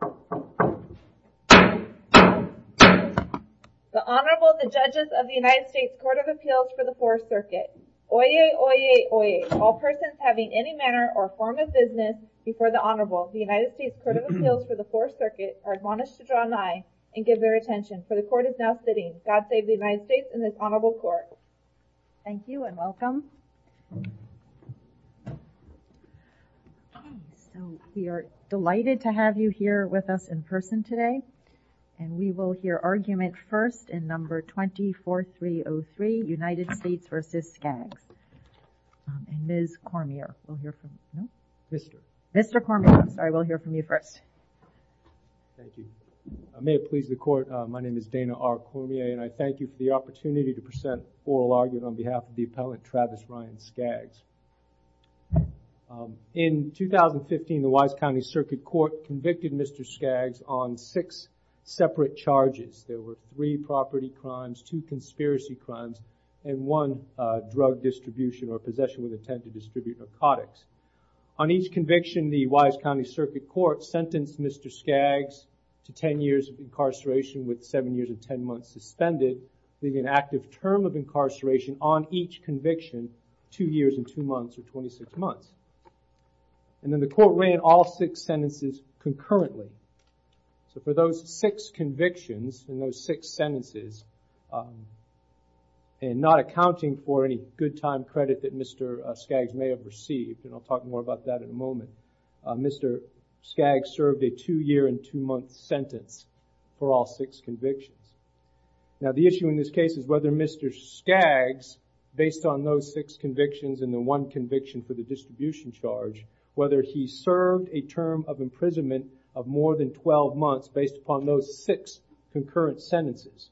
The Honorable, the Judges of the United States Court of Appeals for the Fourth Circuit. Oyez, oyez, oyez. All persons having any manner or form of business before the Honorable of the United States Court of Appeals for the Fourth Circuit are admonished to draw nigh and give their attention, for the Court is now sitting. God save the United States and this Honorable Court. Thank you and welcome. So, we are delighted to have you here with us in person today and we will hear argument first in number 24303, United States v. Skaggs. And Ms. Cormier. Mr. Cormier, I'm sorry, we'll hear from you first. Thank you. May it please the Court, my name is Dana R. Cormier and I thank you for the opportunity to present oral argument on behalf of the appellant Travis Ryan Skaggs. In 2015, the Wise County Circuit Court convicted Mr. Skaggs on six separate charges. There were three property crimes, two conspiracy crimes and one drug distribution or possession with intent to distribute narcotics. On each conviction, the Wise County Circuit Court sentenced Mr. Skaggs to ten years of incarceration with each conviction two years and two months or 26 months. And then the Court ran all six sentences concurrently. So, for those six convictions and those six sentences and not accounting for any good time credit that Mr. Skaggs may have received, and I'll talk more about that in a moment, Mr. Skaggs served a two-year and two-month sentence for all six convictions. Now, the issue in this case is whether Mr. Skaggs, based on those six convictions and the one conviction for the distribution charge, whether he served a term of imprisonment of more than 12 months based upon those six concurrent sentences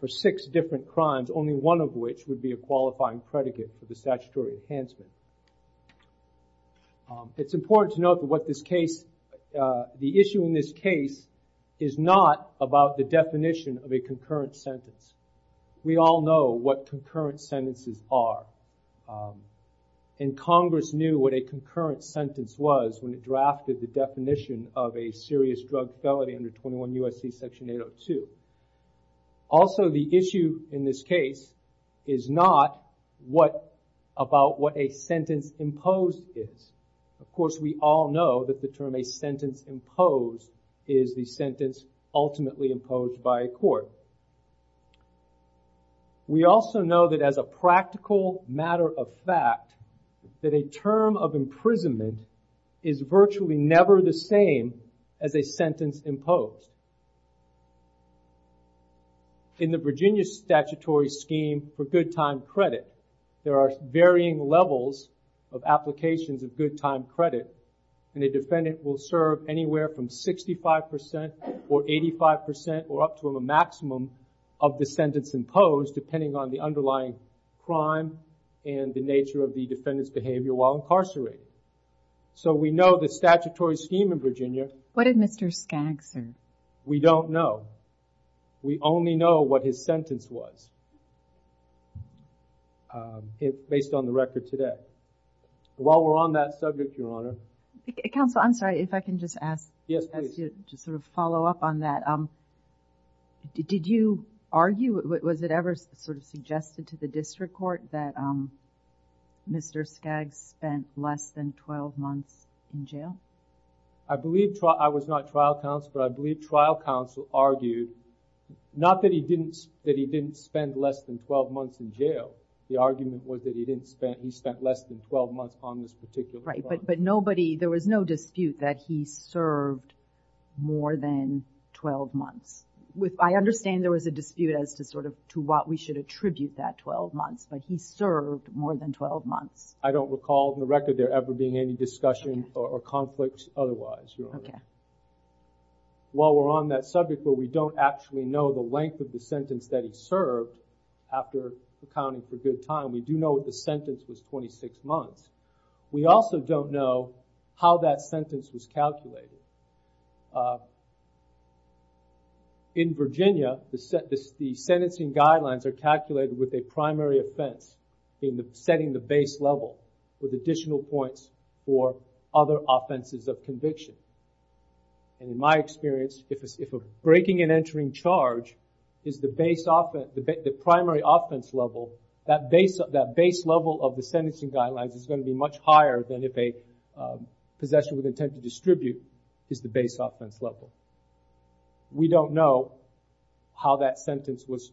for six different crimes, only one of which would be a qualifying predicate for the statutory enhancement. It's important to note that what this case, the issue in this case is not about the definition of a concurrent sentence. We all know what concurrent sentences are. And Congress knew what a concurrent sentence was when it drafted the definition of a serious drug felony under 21 U.S.C. Section 802. Also, the issue in this case is not what about what a sentence imposed is. Of course, we all know that the term a sentence imposed is the sentence ultimately imposed by a court. We also know that as a practical matter of fact, that a term of imprisonment is virtually never the same as a sentence imposed. In the Virginia statutory scheme for good time credit, there are varying levels of applications of good time credit. 65% or 85% or up to a maximum of the sentence imposed, depending on the underlying crime and the nature of the defendant's behavior while incarcerated. So we know the statutory scheme in Virginia. What did Mr. Skaggs serve? We don't know. We only know what his sentence was, based on the record today. While we're on that subject, Your Honor. Counsel, I'm just sort of follow up on that. Did you argue, was it ever sort of suggested to the district court that Mr. Skaggs spent less than 12 months in jail? I was not trial counsel, but I believe trial counsel argued, not that he didn't spend less than 12 months in jail. The argument was that he spent less than 12 months on this particular crime. Right, but nobody, there was no more than 12 months. I understand there was a dispute as to sort of, to what we should attribute that 12 months, but he served more than 12 months. I don't recall in the record there ever being any discussion or conflicts otherwise, Your Honor. While we're on that subject where we don't actually know the length of the sentence that he served after accounting for good time, we do know what the sentence was 26 months. We also don't know how that was. In Virginia, the sentencing guidelines are calculated with a primary offense in setting the base level with additional points for other offenses of conviction. In my experience, if a breaking and entering charge is the primary offense level, that base level of the sentencing guidelines is going to be much higher than if a possession with intent to distribute is the base offense level. We don't know how that sentence was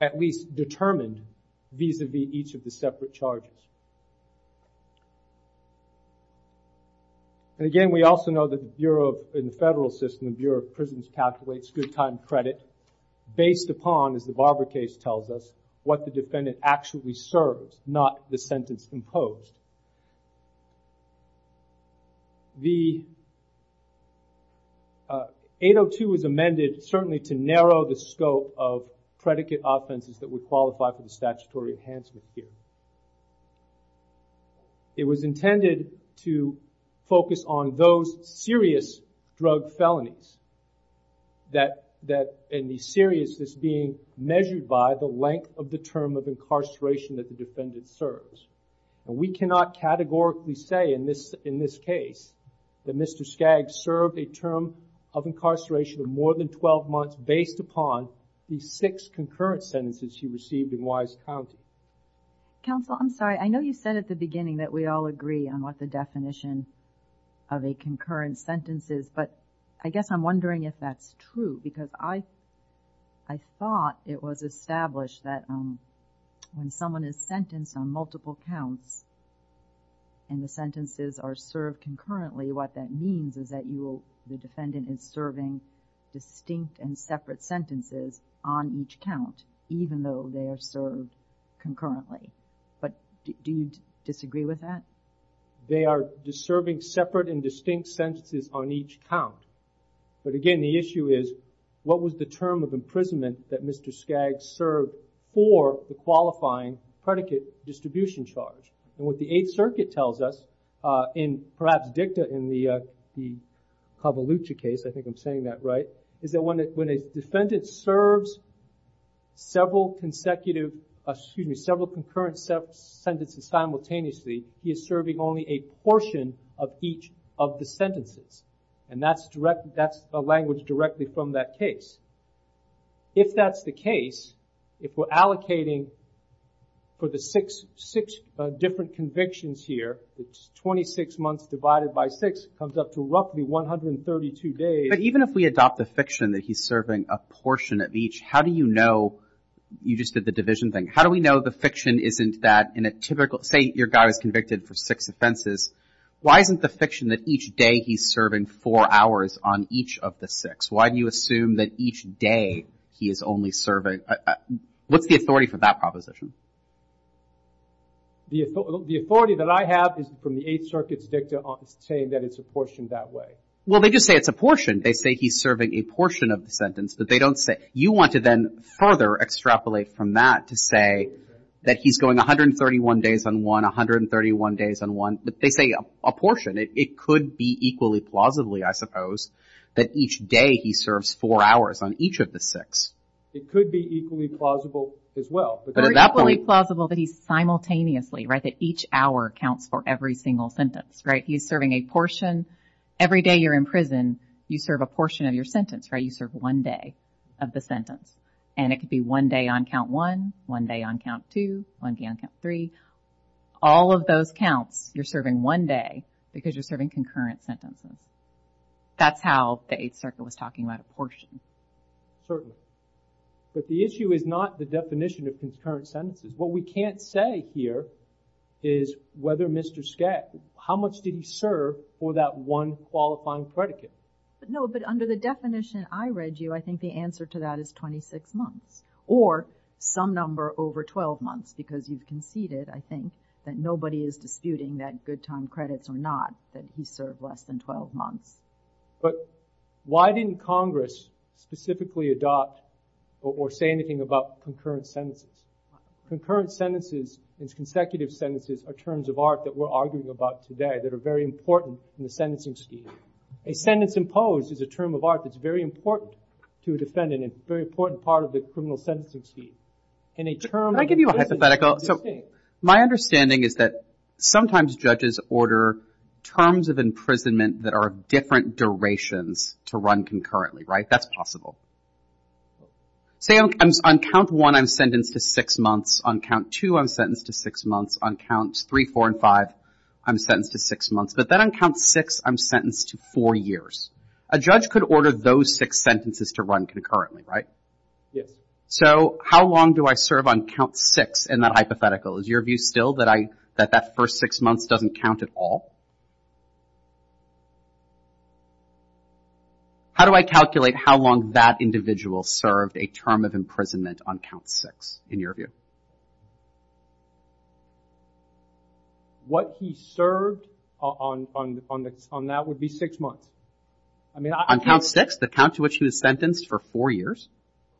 at least determined vis-a-vis each of the separate charges. And again, we also know that the Bureau, in the federal system, the Bureau of Prisons calculates good time credit based upon, as the Barber case tells us, what the defendant actually served, not the sentence imposed. The 802 was amended certainly to narrow the scope of predicate offenses that would qualify for the statutory enhancement here. It was intended to focus on those serious drug felonies that in the seriousness being measured by the length of the term of incarceration that the defendant serves. And we cannot categorically say in this case that Mr. Skaggs served a term of incarceration of more than 12 months based upon the six concurrent sentences he received in Wise County. Counsel, I'm sorry. I know you said at the beginning that we all agree on what the definition of a concurrent sentence is, but I guess I'm wondering if that's true because I thought it was established that when someone is sentenced on multiple counts and the sentences are served concurrently, what that means is that the defendant is serving distinct and separate sentences on each count, even though they are served concurrently. But do you disagree with that? They are serving separate and distinct sentences on each count. But again, the issue is, what was the term of imprisonment that Mr. Skaggs served for the qualifying predicate distribution charge? And what the Eighth Circuit tells us, and perhaps dicta in the Cavalucci case, I think I'm saying that right, is that when a defendant serves several concurrent sentences simultaneously, he is serving only a portion of each of the sentences. And that's a language directly from that case. If that's the case, if we're allocating for the six different convictions here, it's 26 months divided by six, comes up to roughly 132 days. But even if we adopt the fiction that he's serving a portion of each, how do you know you just did the division thing, how do we know the fiction isn't that in a typical, say your guy was convicted for six offenses, why isn't the fiction that each day he's serving four hours on each of the six? Why do you assume that each day he is only serving what's the authority for that proposition? The authority that I have is from the Eighth Circuit's dicta saying that it's a portion that way. Well, they just say it's a portion. They say he's serving a portion of the sentence, but they don't say, you want to then further extrapolate from that to say that he's going 131 days on one, 131 days on one, but they say a portion. It could be equally plausibly, I suppose, that each day he serves four hours on each of the six. It could be equally plausible as well, but at that point- Or equally plausible that he's simultaneously, right, that each hour counts for every single sentence, right? He's serving a portion. Every day you're in prison, you serve a portion of your sentence, right? You serve one day of the sentence, and it could be one day on count one, one day on count two, one day on count three. All of those counts, you're serving one day because you're serving concurrent sentences. That's how the Eighth Circuit was talking about a portion. Certainly, but the issue is not the definition of concurrent sentences. What we can't say here is whether Mr. Skagg, how much did he serve for that one qualifying predicate? No, but under the definition I read you, I think the answer to that is 26 months or some number over 12 months because you've conceded, I think, that nobody is disputing that good time credits or not, that he served less than 12 months. But why didn't Congress specifically adopt or say anything about concurrent sentences? Concurrent sentences and consecutive sentences are terms of art that we're arguing about today that are very important in the sentencing scheme. A sentence imposed is a term of art that's very important to a defendant and a very important part of the criminal sentencing scheme. Can I give you a hypothetical? My understanding is that sometimes judges order terms of imprisonment that are of different durations to run concurrently, right? That's possible. Say on count one, I'm sentenced to six months. On count two, I'm sentenced to six months. On counts three, four, and five, I'm sentenced to six months. But then on count six, I'm sentenced to four years. A judge could order those six sentences to run concurrently, right? Yes. So how long do I serve on count six in that hypothetical? Is your view still that that first six months doesn't count at all? How do I calculate how long that individual served a term of imprisonment on count six in your view? What he served on that would be six months. On count six, the count to which he was sentenced for four years?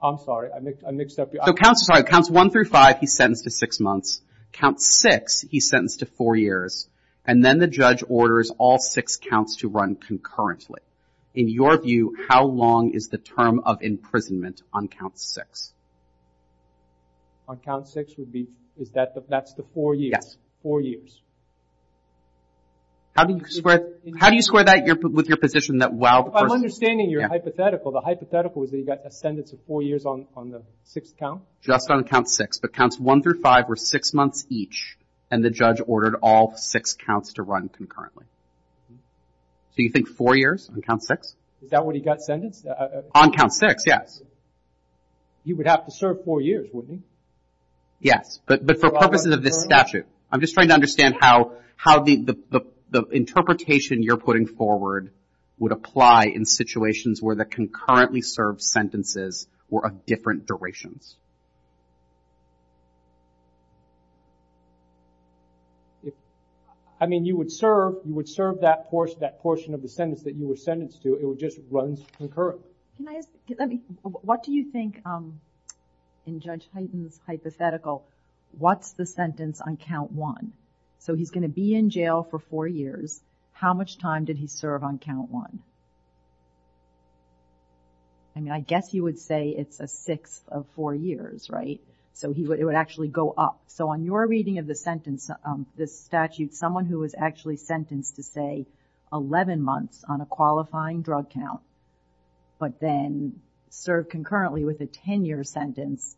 I'm sorry. I mixed up your answer. So counts one through five, he's sentenced to six months. Count six, he's sentenced to four years. And then the judge orders all six counts to run concurrently. In your view, how long is the term of imprisonment on count six? On count six would be, is that the, that's the four years? Yes. Four years. How do you square, how do you square that with your position that while the person If I'm understanding your hypothetical, the hypothetical is that he got a sentence of four years on the sixth count? Just on count six. But counts one through five were six months each, and the judge ordered all six counts to run concurrently. So you think four years on count six? Is that what he got sentenced? On count six, yes. He would have to serve four years, wouldn't he? Yes. But for purposes of this statute, I'm just trying to understand how the interpretation you're putting forward would apply in situations where the concurrently served sentences were of different durations. I mean, you would serve, you would serve that portion of the sentence that you were sentenced to, it would just run concurrently. Can I ask, let me, what do you think in Judge Hyten's hypothetical, what's the sentence on count one? So he's going to be in jail for four years. How much time did he serve on count one? I mean, I guess you would say it's a sixth of four years, right? So he would, it would actually go up. So on your reading of the sentence, this statute, someone who was actually sentenced to, say, 11 months on a qualifying drug count, but then served concurrently with a 10 year sentence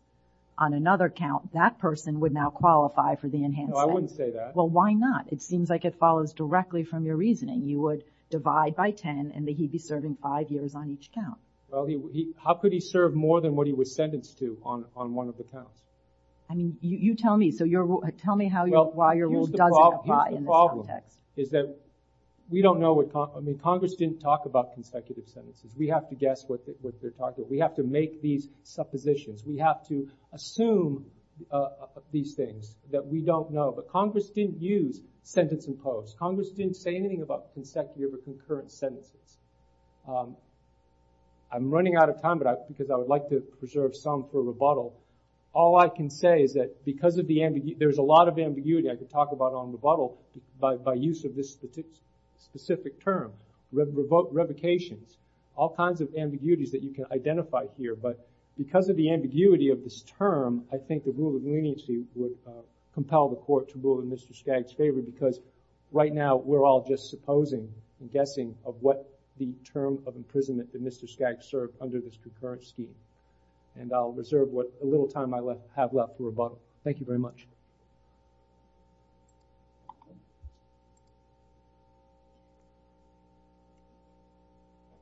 on another count, that person would now qualify for the enhanced sentence. No, I wouldn't say that. Well, why not? It seems like it follows directly from your reasoning. You would divide by 10 and he'd be serving five years on each count. How could he serve more than what he was sentenced to on one of the counts? I mean, you tell me. So you're, tell me how, why your rule doesn't apply in this case. The problem is that we don't know what, I mean, Congress didn't talk about consecutive sentences. We have to guess what they're talking about. We have to make these suppositions. We have to assume these things that we don't know. But Congress didn't use sentence imposed. Congress didn't say anything about consecutive or concurrent sentences. I'm running out of time, but I, because I would like to preserve some for rebuttal. All I can say is that because of the ambiguity, there's a lot of ambiguity I could talk about on rebuttal by, by use of this specific term, revocations, all kinds of ambiguities that you can identify here. But because of the ambiguity of this term, I think the rule of leniency would compel the court to rule in Mr. Skagg's favor because right now we're all just supposing and guessing of what the term of imprisonment that Mr. Skagg served under this concurrent scheme. And I'll reserve what little time I have left for rebuttal. Thank you very much.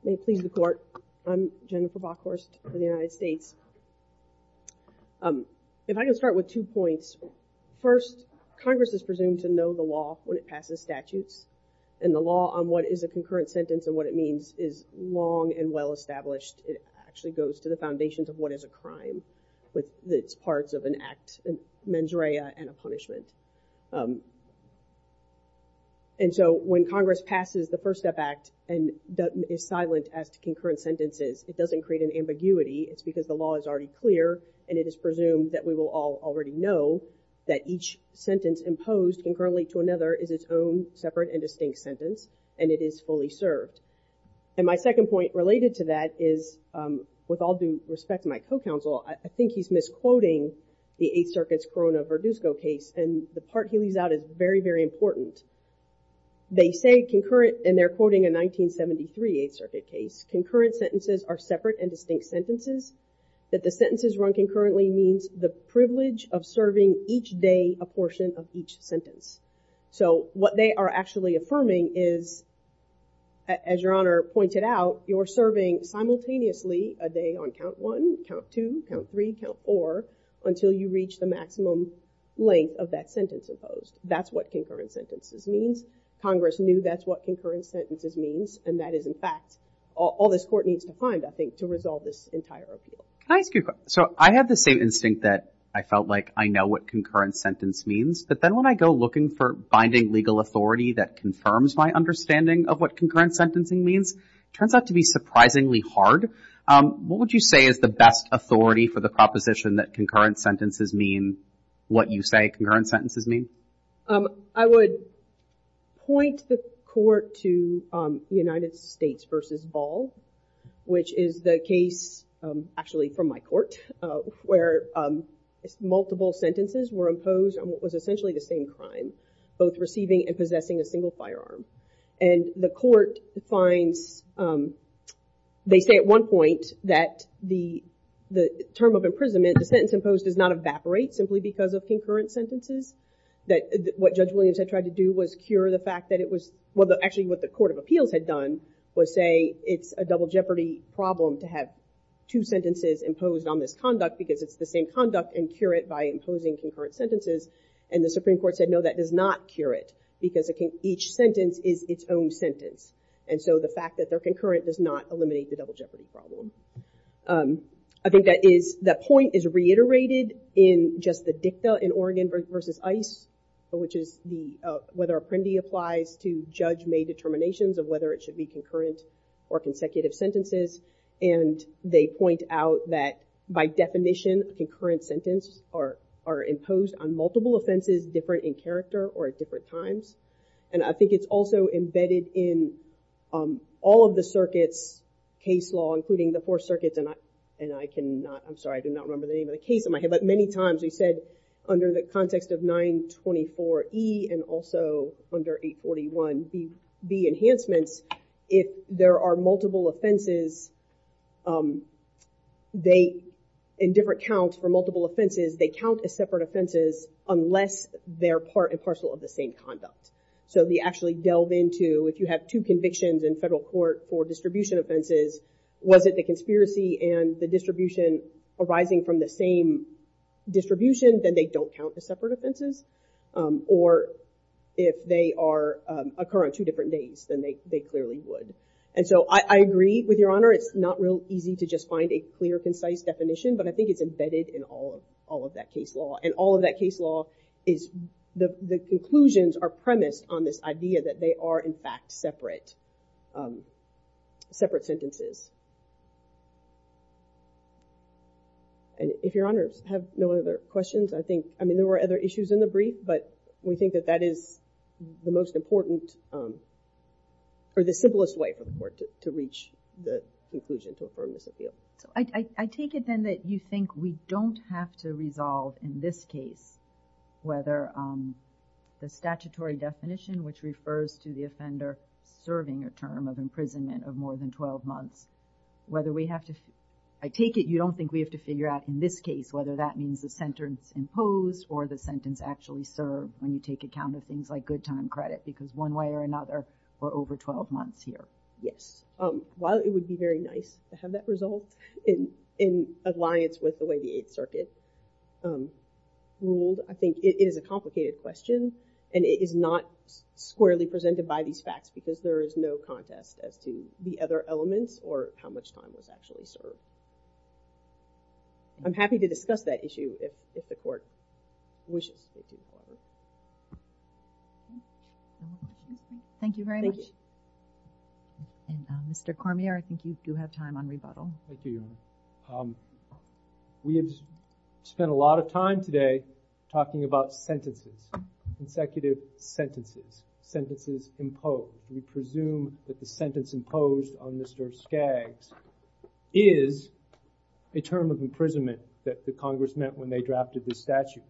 May it please the court. I'm Jennifer Bockhorst for the United States. Um, if I can start with two points, first Congress is presumed to know the law when it passes statutes and the law on what is a concurrent sentence and what it means is long and well-established. It actually goes to the foundations of what is a crime with its parts of an act, mens rea, and a punishment. Um, and so when Congress passes the First Step Act and is silent as to concurrent sentences, it doesn't create an ambiguity. It's because the law is already clear and it is presumed that we will all already know that each sentence imposed concurrently to another is its own separate and distinct sentence and it is fully served. And my second point related to that is, um, with all due respect to my co-counsel, I think he's misquoting the Eighth Circuit's Corona-Verdusco case and the part he leaves out is very, very important. They say concurrent, and they're quoting a 1973 Eighth Circuit case, concurrent sentences are separate and distinct sentences, that the sentences run concurrently means the privilege of serving each day a portion of each sentence. So what they are actually affirming is, as Your Honor pointed out, you're serving simultaneously a day on Count 1, Count 2, Count 3, Count 4 until you reach the maximum length of that sentence imposed. That's what concurrent sentences means. Congress knew that's what concurrent sentences means and that is, in fact, all this Court needs to find, I think, to resolve this entire appeal. Can I ask you a question? So I have the same instinct that I felt like I know what concurrent sentence means, but then when I go looking for binding legal authority that confirms my understanding of what concurrent sentencing means, it turns out to be surprisingly hard. What would you say is the best authority for the proposition that concurrent sentences mean what you say concurrent sentences mean? I would point the Court to the United States v. Ball, which is the case, actually, from my Court, where multiple sentences were imposed on what was essentially the same crime, both And the Court finds, they say at one point that the term of imprisonment, the sentence imposed does not evaporate simply because of concurrent sentences. What Judge Williams had tried to do was cure the fact that it was, well, actually what the Court of Appeals had done was say it's a double jeopardy problem to have two sentences imposed on this conduct because it's the same conduct and cure it by imposing concurrent sentences. And the double jeopardy problem is its own sentence. And so the fact that they're concurrent does not eliminate the double jeopardy problem. I think that point is reiterated in just the dicta in Oregon v. Ice, which is whether Apprendi applies to Judge May determinations of whether it should be concurrent or consecutive sentences. And they point out that by definition, concurrent sentences are imposed on multiple offenses different in character or at different times. And I think it's also embedded in all of the circuits, case law, including the four circuits. And I can not, I'm sorry, I do not remember the name of the case in my head, but many times we said under the context of 924E and also under 841B enhancements, if there are multiple offenses, they, in different counts for multiple offenses, they count as separate conduct. So they actually delve into, if you have two convictions in federal court for distribution offenses, was it the conspiracy and the distribution arising from the same distribution, then they don't count as separate offenses. Or if they are, occur on two different days, then they clearly would. And so I agree with your honor. It's not real easy to just find a clear, concise definition, but I think it's embedded in all of that case law. And all of the definitions are premised on this idea that they are in fact separate, separate sentences. And if your honors have no other questions, I think, I mean, there were other issues in the brief, but we think that that is the most important or the simplest way for the court to reach the conclusion to affirm this appeal. I take it then that you think we don't have to resolve in this case, whether the statutory definition, which refers to the offender serving a term of imprisonment of more than 12 months, whether we have to, I take it you don't think we have to figure out in this case, whether that means the sentence imposed or the sentence actually served when you take account of things like good time credit, because one way or another, we're over 12 months here. Yes. While it would be very nice to have that result in, in alliance with the way the Eighth Circuit ruled, I think it is a complicated question and it is not squarely presented by these facts because there is no contest as to the other elements or how much time was actually served. I'm happy to discuss that issue if, if the court wishes to do so. Thank you very much. And Mr. Cormier, I think you do have time on rebuttal. Thank you, Your Honor. We have spent a lot of time today talking about sentences, consecutive sentences, sentences imposed. We presume that the sentence imposed on Mr. Skaggs is a term of imprisonment that the Congress meant when they drafted this statute,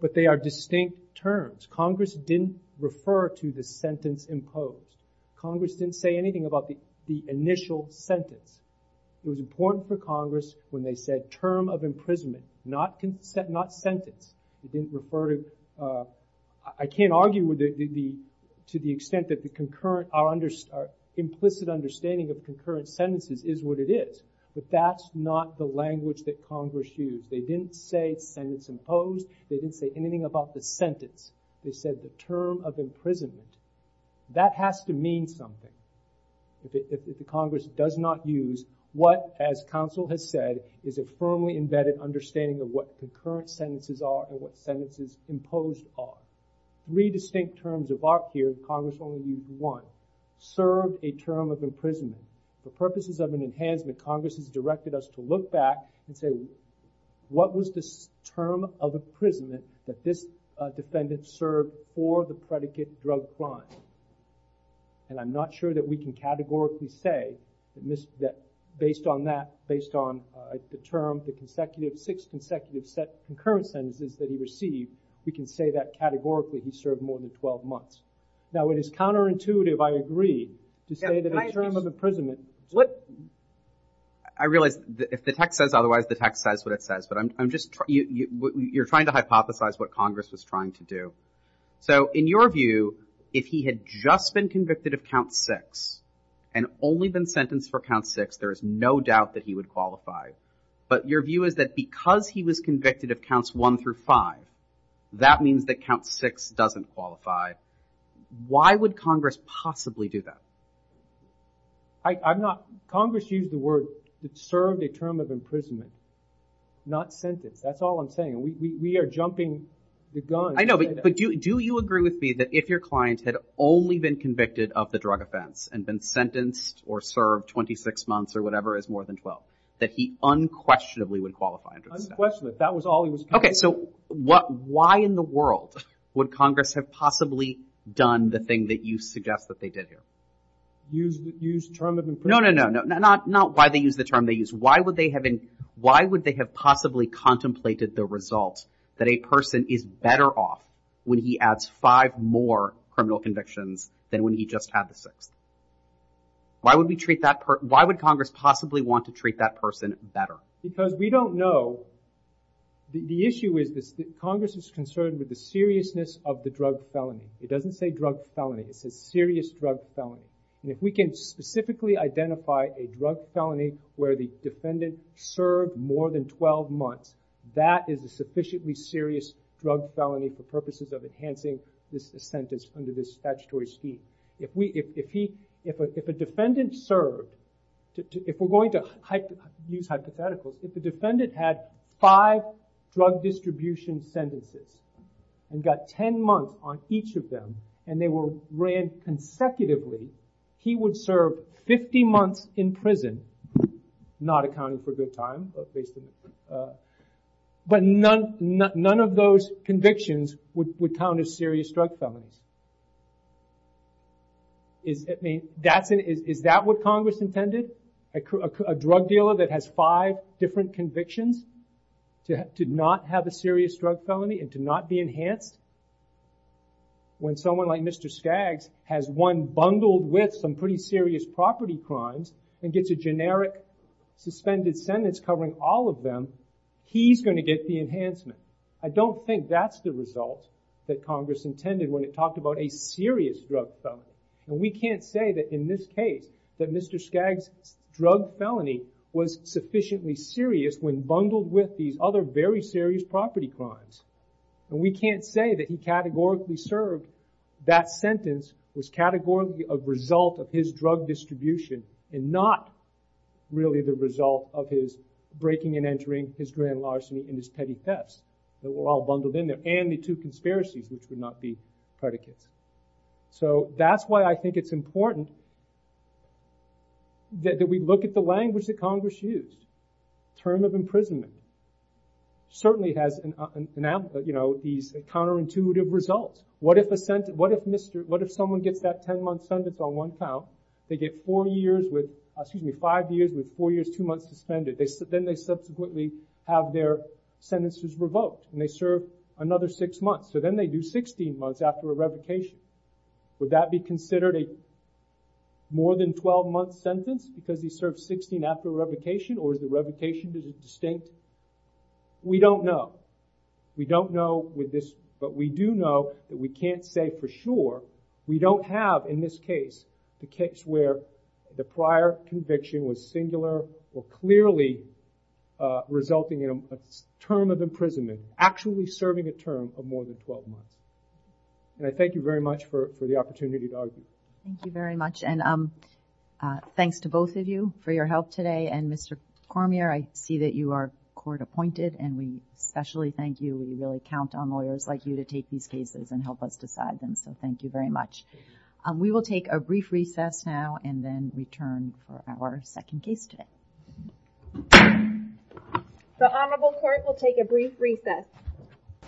but they are distinct terms. Congress didn't refer to the sentence imposed. Congress didn't say anything about the initial sentence. It was important for Congress when they said term of imprisonment, not sentence. They didn't refer to, I can't argue with the, to the extent that the concurrent, our implicit understanding of concurrent sentences is what it is. But that's not the language that Congress used. They didn't say sentence imposed. They didn't say anything about the sentence. They said the term of imprisonment. That has to mean something. If the Congress does not use what, as counsel has said, is a firmly embedded understanding of what concurrent sentences are and what sentences imposed are. Three distinct terms of art here, Congress only used one, served a term of imprisonment. For purposes of an enhancement, Congress has directed us to look back and say, what was the term of imprisonment that this defendant served for the predicate drug crime? And I'm not sure that we can categorically say that based on that, based on the term, the consecutive, six consecutive set concurrent sentences that he received, we can say that categorically he served more than 12 months. Now it is counterintuitive, I agree, to say that a term of imprisonment. I realize if the text says otherwise, the text says what it says, but I'm just, you're trying to hypothesize what Congress was trying to do. So in your view, if he had just been convicted of count six and only been sentenced for count six, there is no doubt that he would qualify. But your view is that because he was convicted of counts one through five, that means that count six doesn't qualify. Why would Congress possibly do that? I'm not, Congress used the word that served a term of imprisonment, not sentence. That's all I'm saying. We are jumping the gun. I know, but do you agree with me that if your client had only been convicted of the drug offense and been sentenced or served 26 months or whatever is more than 12, that he unquestionably would qualify under the statute? Unquestionably, if that was all he was convicted of. Okay, so why in the world would Congress have possibly done the thing that you suggest that they did here? Use the term of imprisonment. No, no, no, not why they use the term they use. Why would they have possibly contemplated the result that a person is better off when he adds five more criminal convictions than when he just had the sixth? Why would Congress possibly want to treat that person better? Because we don't know. The issue is that Congress is concerned with the seriousness of the drug felony. It doesn't say drug felony. It says serious drug felony. And if we can specifically identify a drug felony where the defendant served more than 12 months, that is a sufficiently serious drug felony for purposes of enhancing this sentence under this statutory scheme. If a defendant served, if we're going to use hypotheticals, if the defendant had five drug distribution sentences and got 10 months on each of them and they were ran consecutively, he would serve 50 months in prison, not accounting for good time, but none of those convictions would count as serious drug felonies. Is that what Congress intended? A drug dealer that has five different convictions to not have a serious drug felony and to not be enhanced? When someone like Mr. Skaggs has one bundled with some pretty serious property crimes and gets a generic suspended sentence covering all of them, he's going to get the enhancement. I don't think that's the result that Congress intended when it talked about a serious drug felony. And we can't say that in this case that Mr. Skaggs' drug felony was sufficiently serious when bundled with these other very serious property crimes. And we can't say that he categorically served that sentence was categorically a result of his drug distribution and not really the result of his breaking and entering, his grand larceny, and his petty thefts that were all bundled in there, and the two conspiracies, which would not be predicates. So that's why I think it's important that we look at the language that Congress used. Term of imprisonment certainly has these counterintuitive results. What if someone gets that 10-month sentence on one count? They get five years with four years, two months suspended. Then they subsequently have their sentences revoked, and they serve another six months. So then they do 16 months after a revocation. Would that be considered a more than 12-month sentence because he served 16 after a revocation? Or is the revocation distinct? We don't know. We don't know with this, but we do know that we can't say for sure. We don't have in this case the case where the prior conviction was singular or clearly resulting in a term of imprisonment, actually serving a term of more than 12 months. And I thank you very much for the opportunity to argue. Thank you very much, and thanks to both of you for your help today. And Mr. Cormier, I see that you are court-appointed, and we especially thank you. We really count on lawyers like you to take these cases and help us decide them, so thank you very much. We will take a brief recess now and then return for our second case today. The Honorable Court will take a brief recess.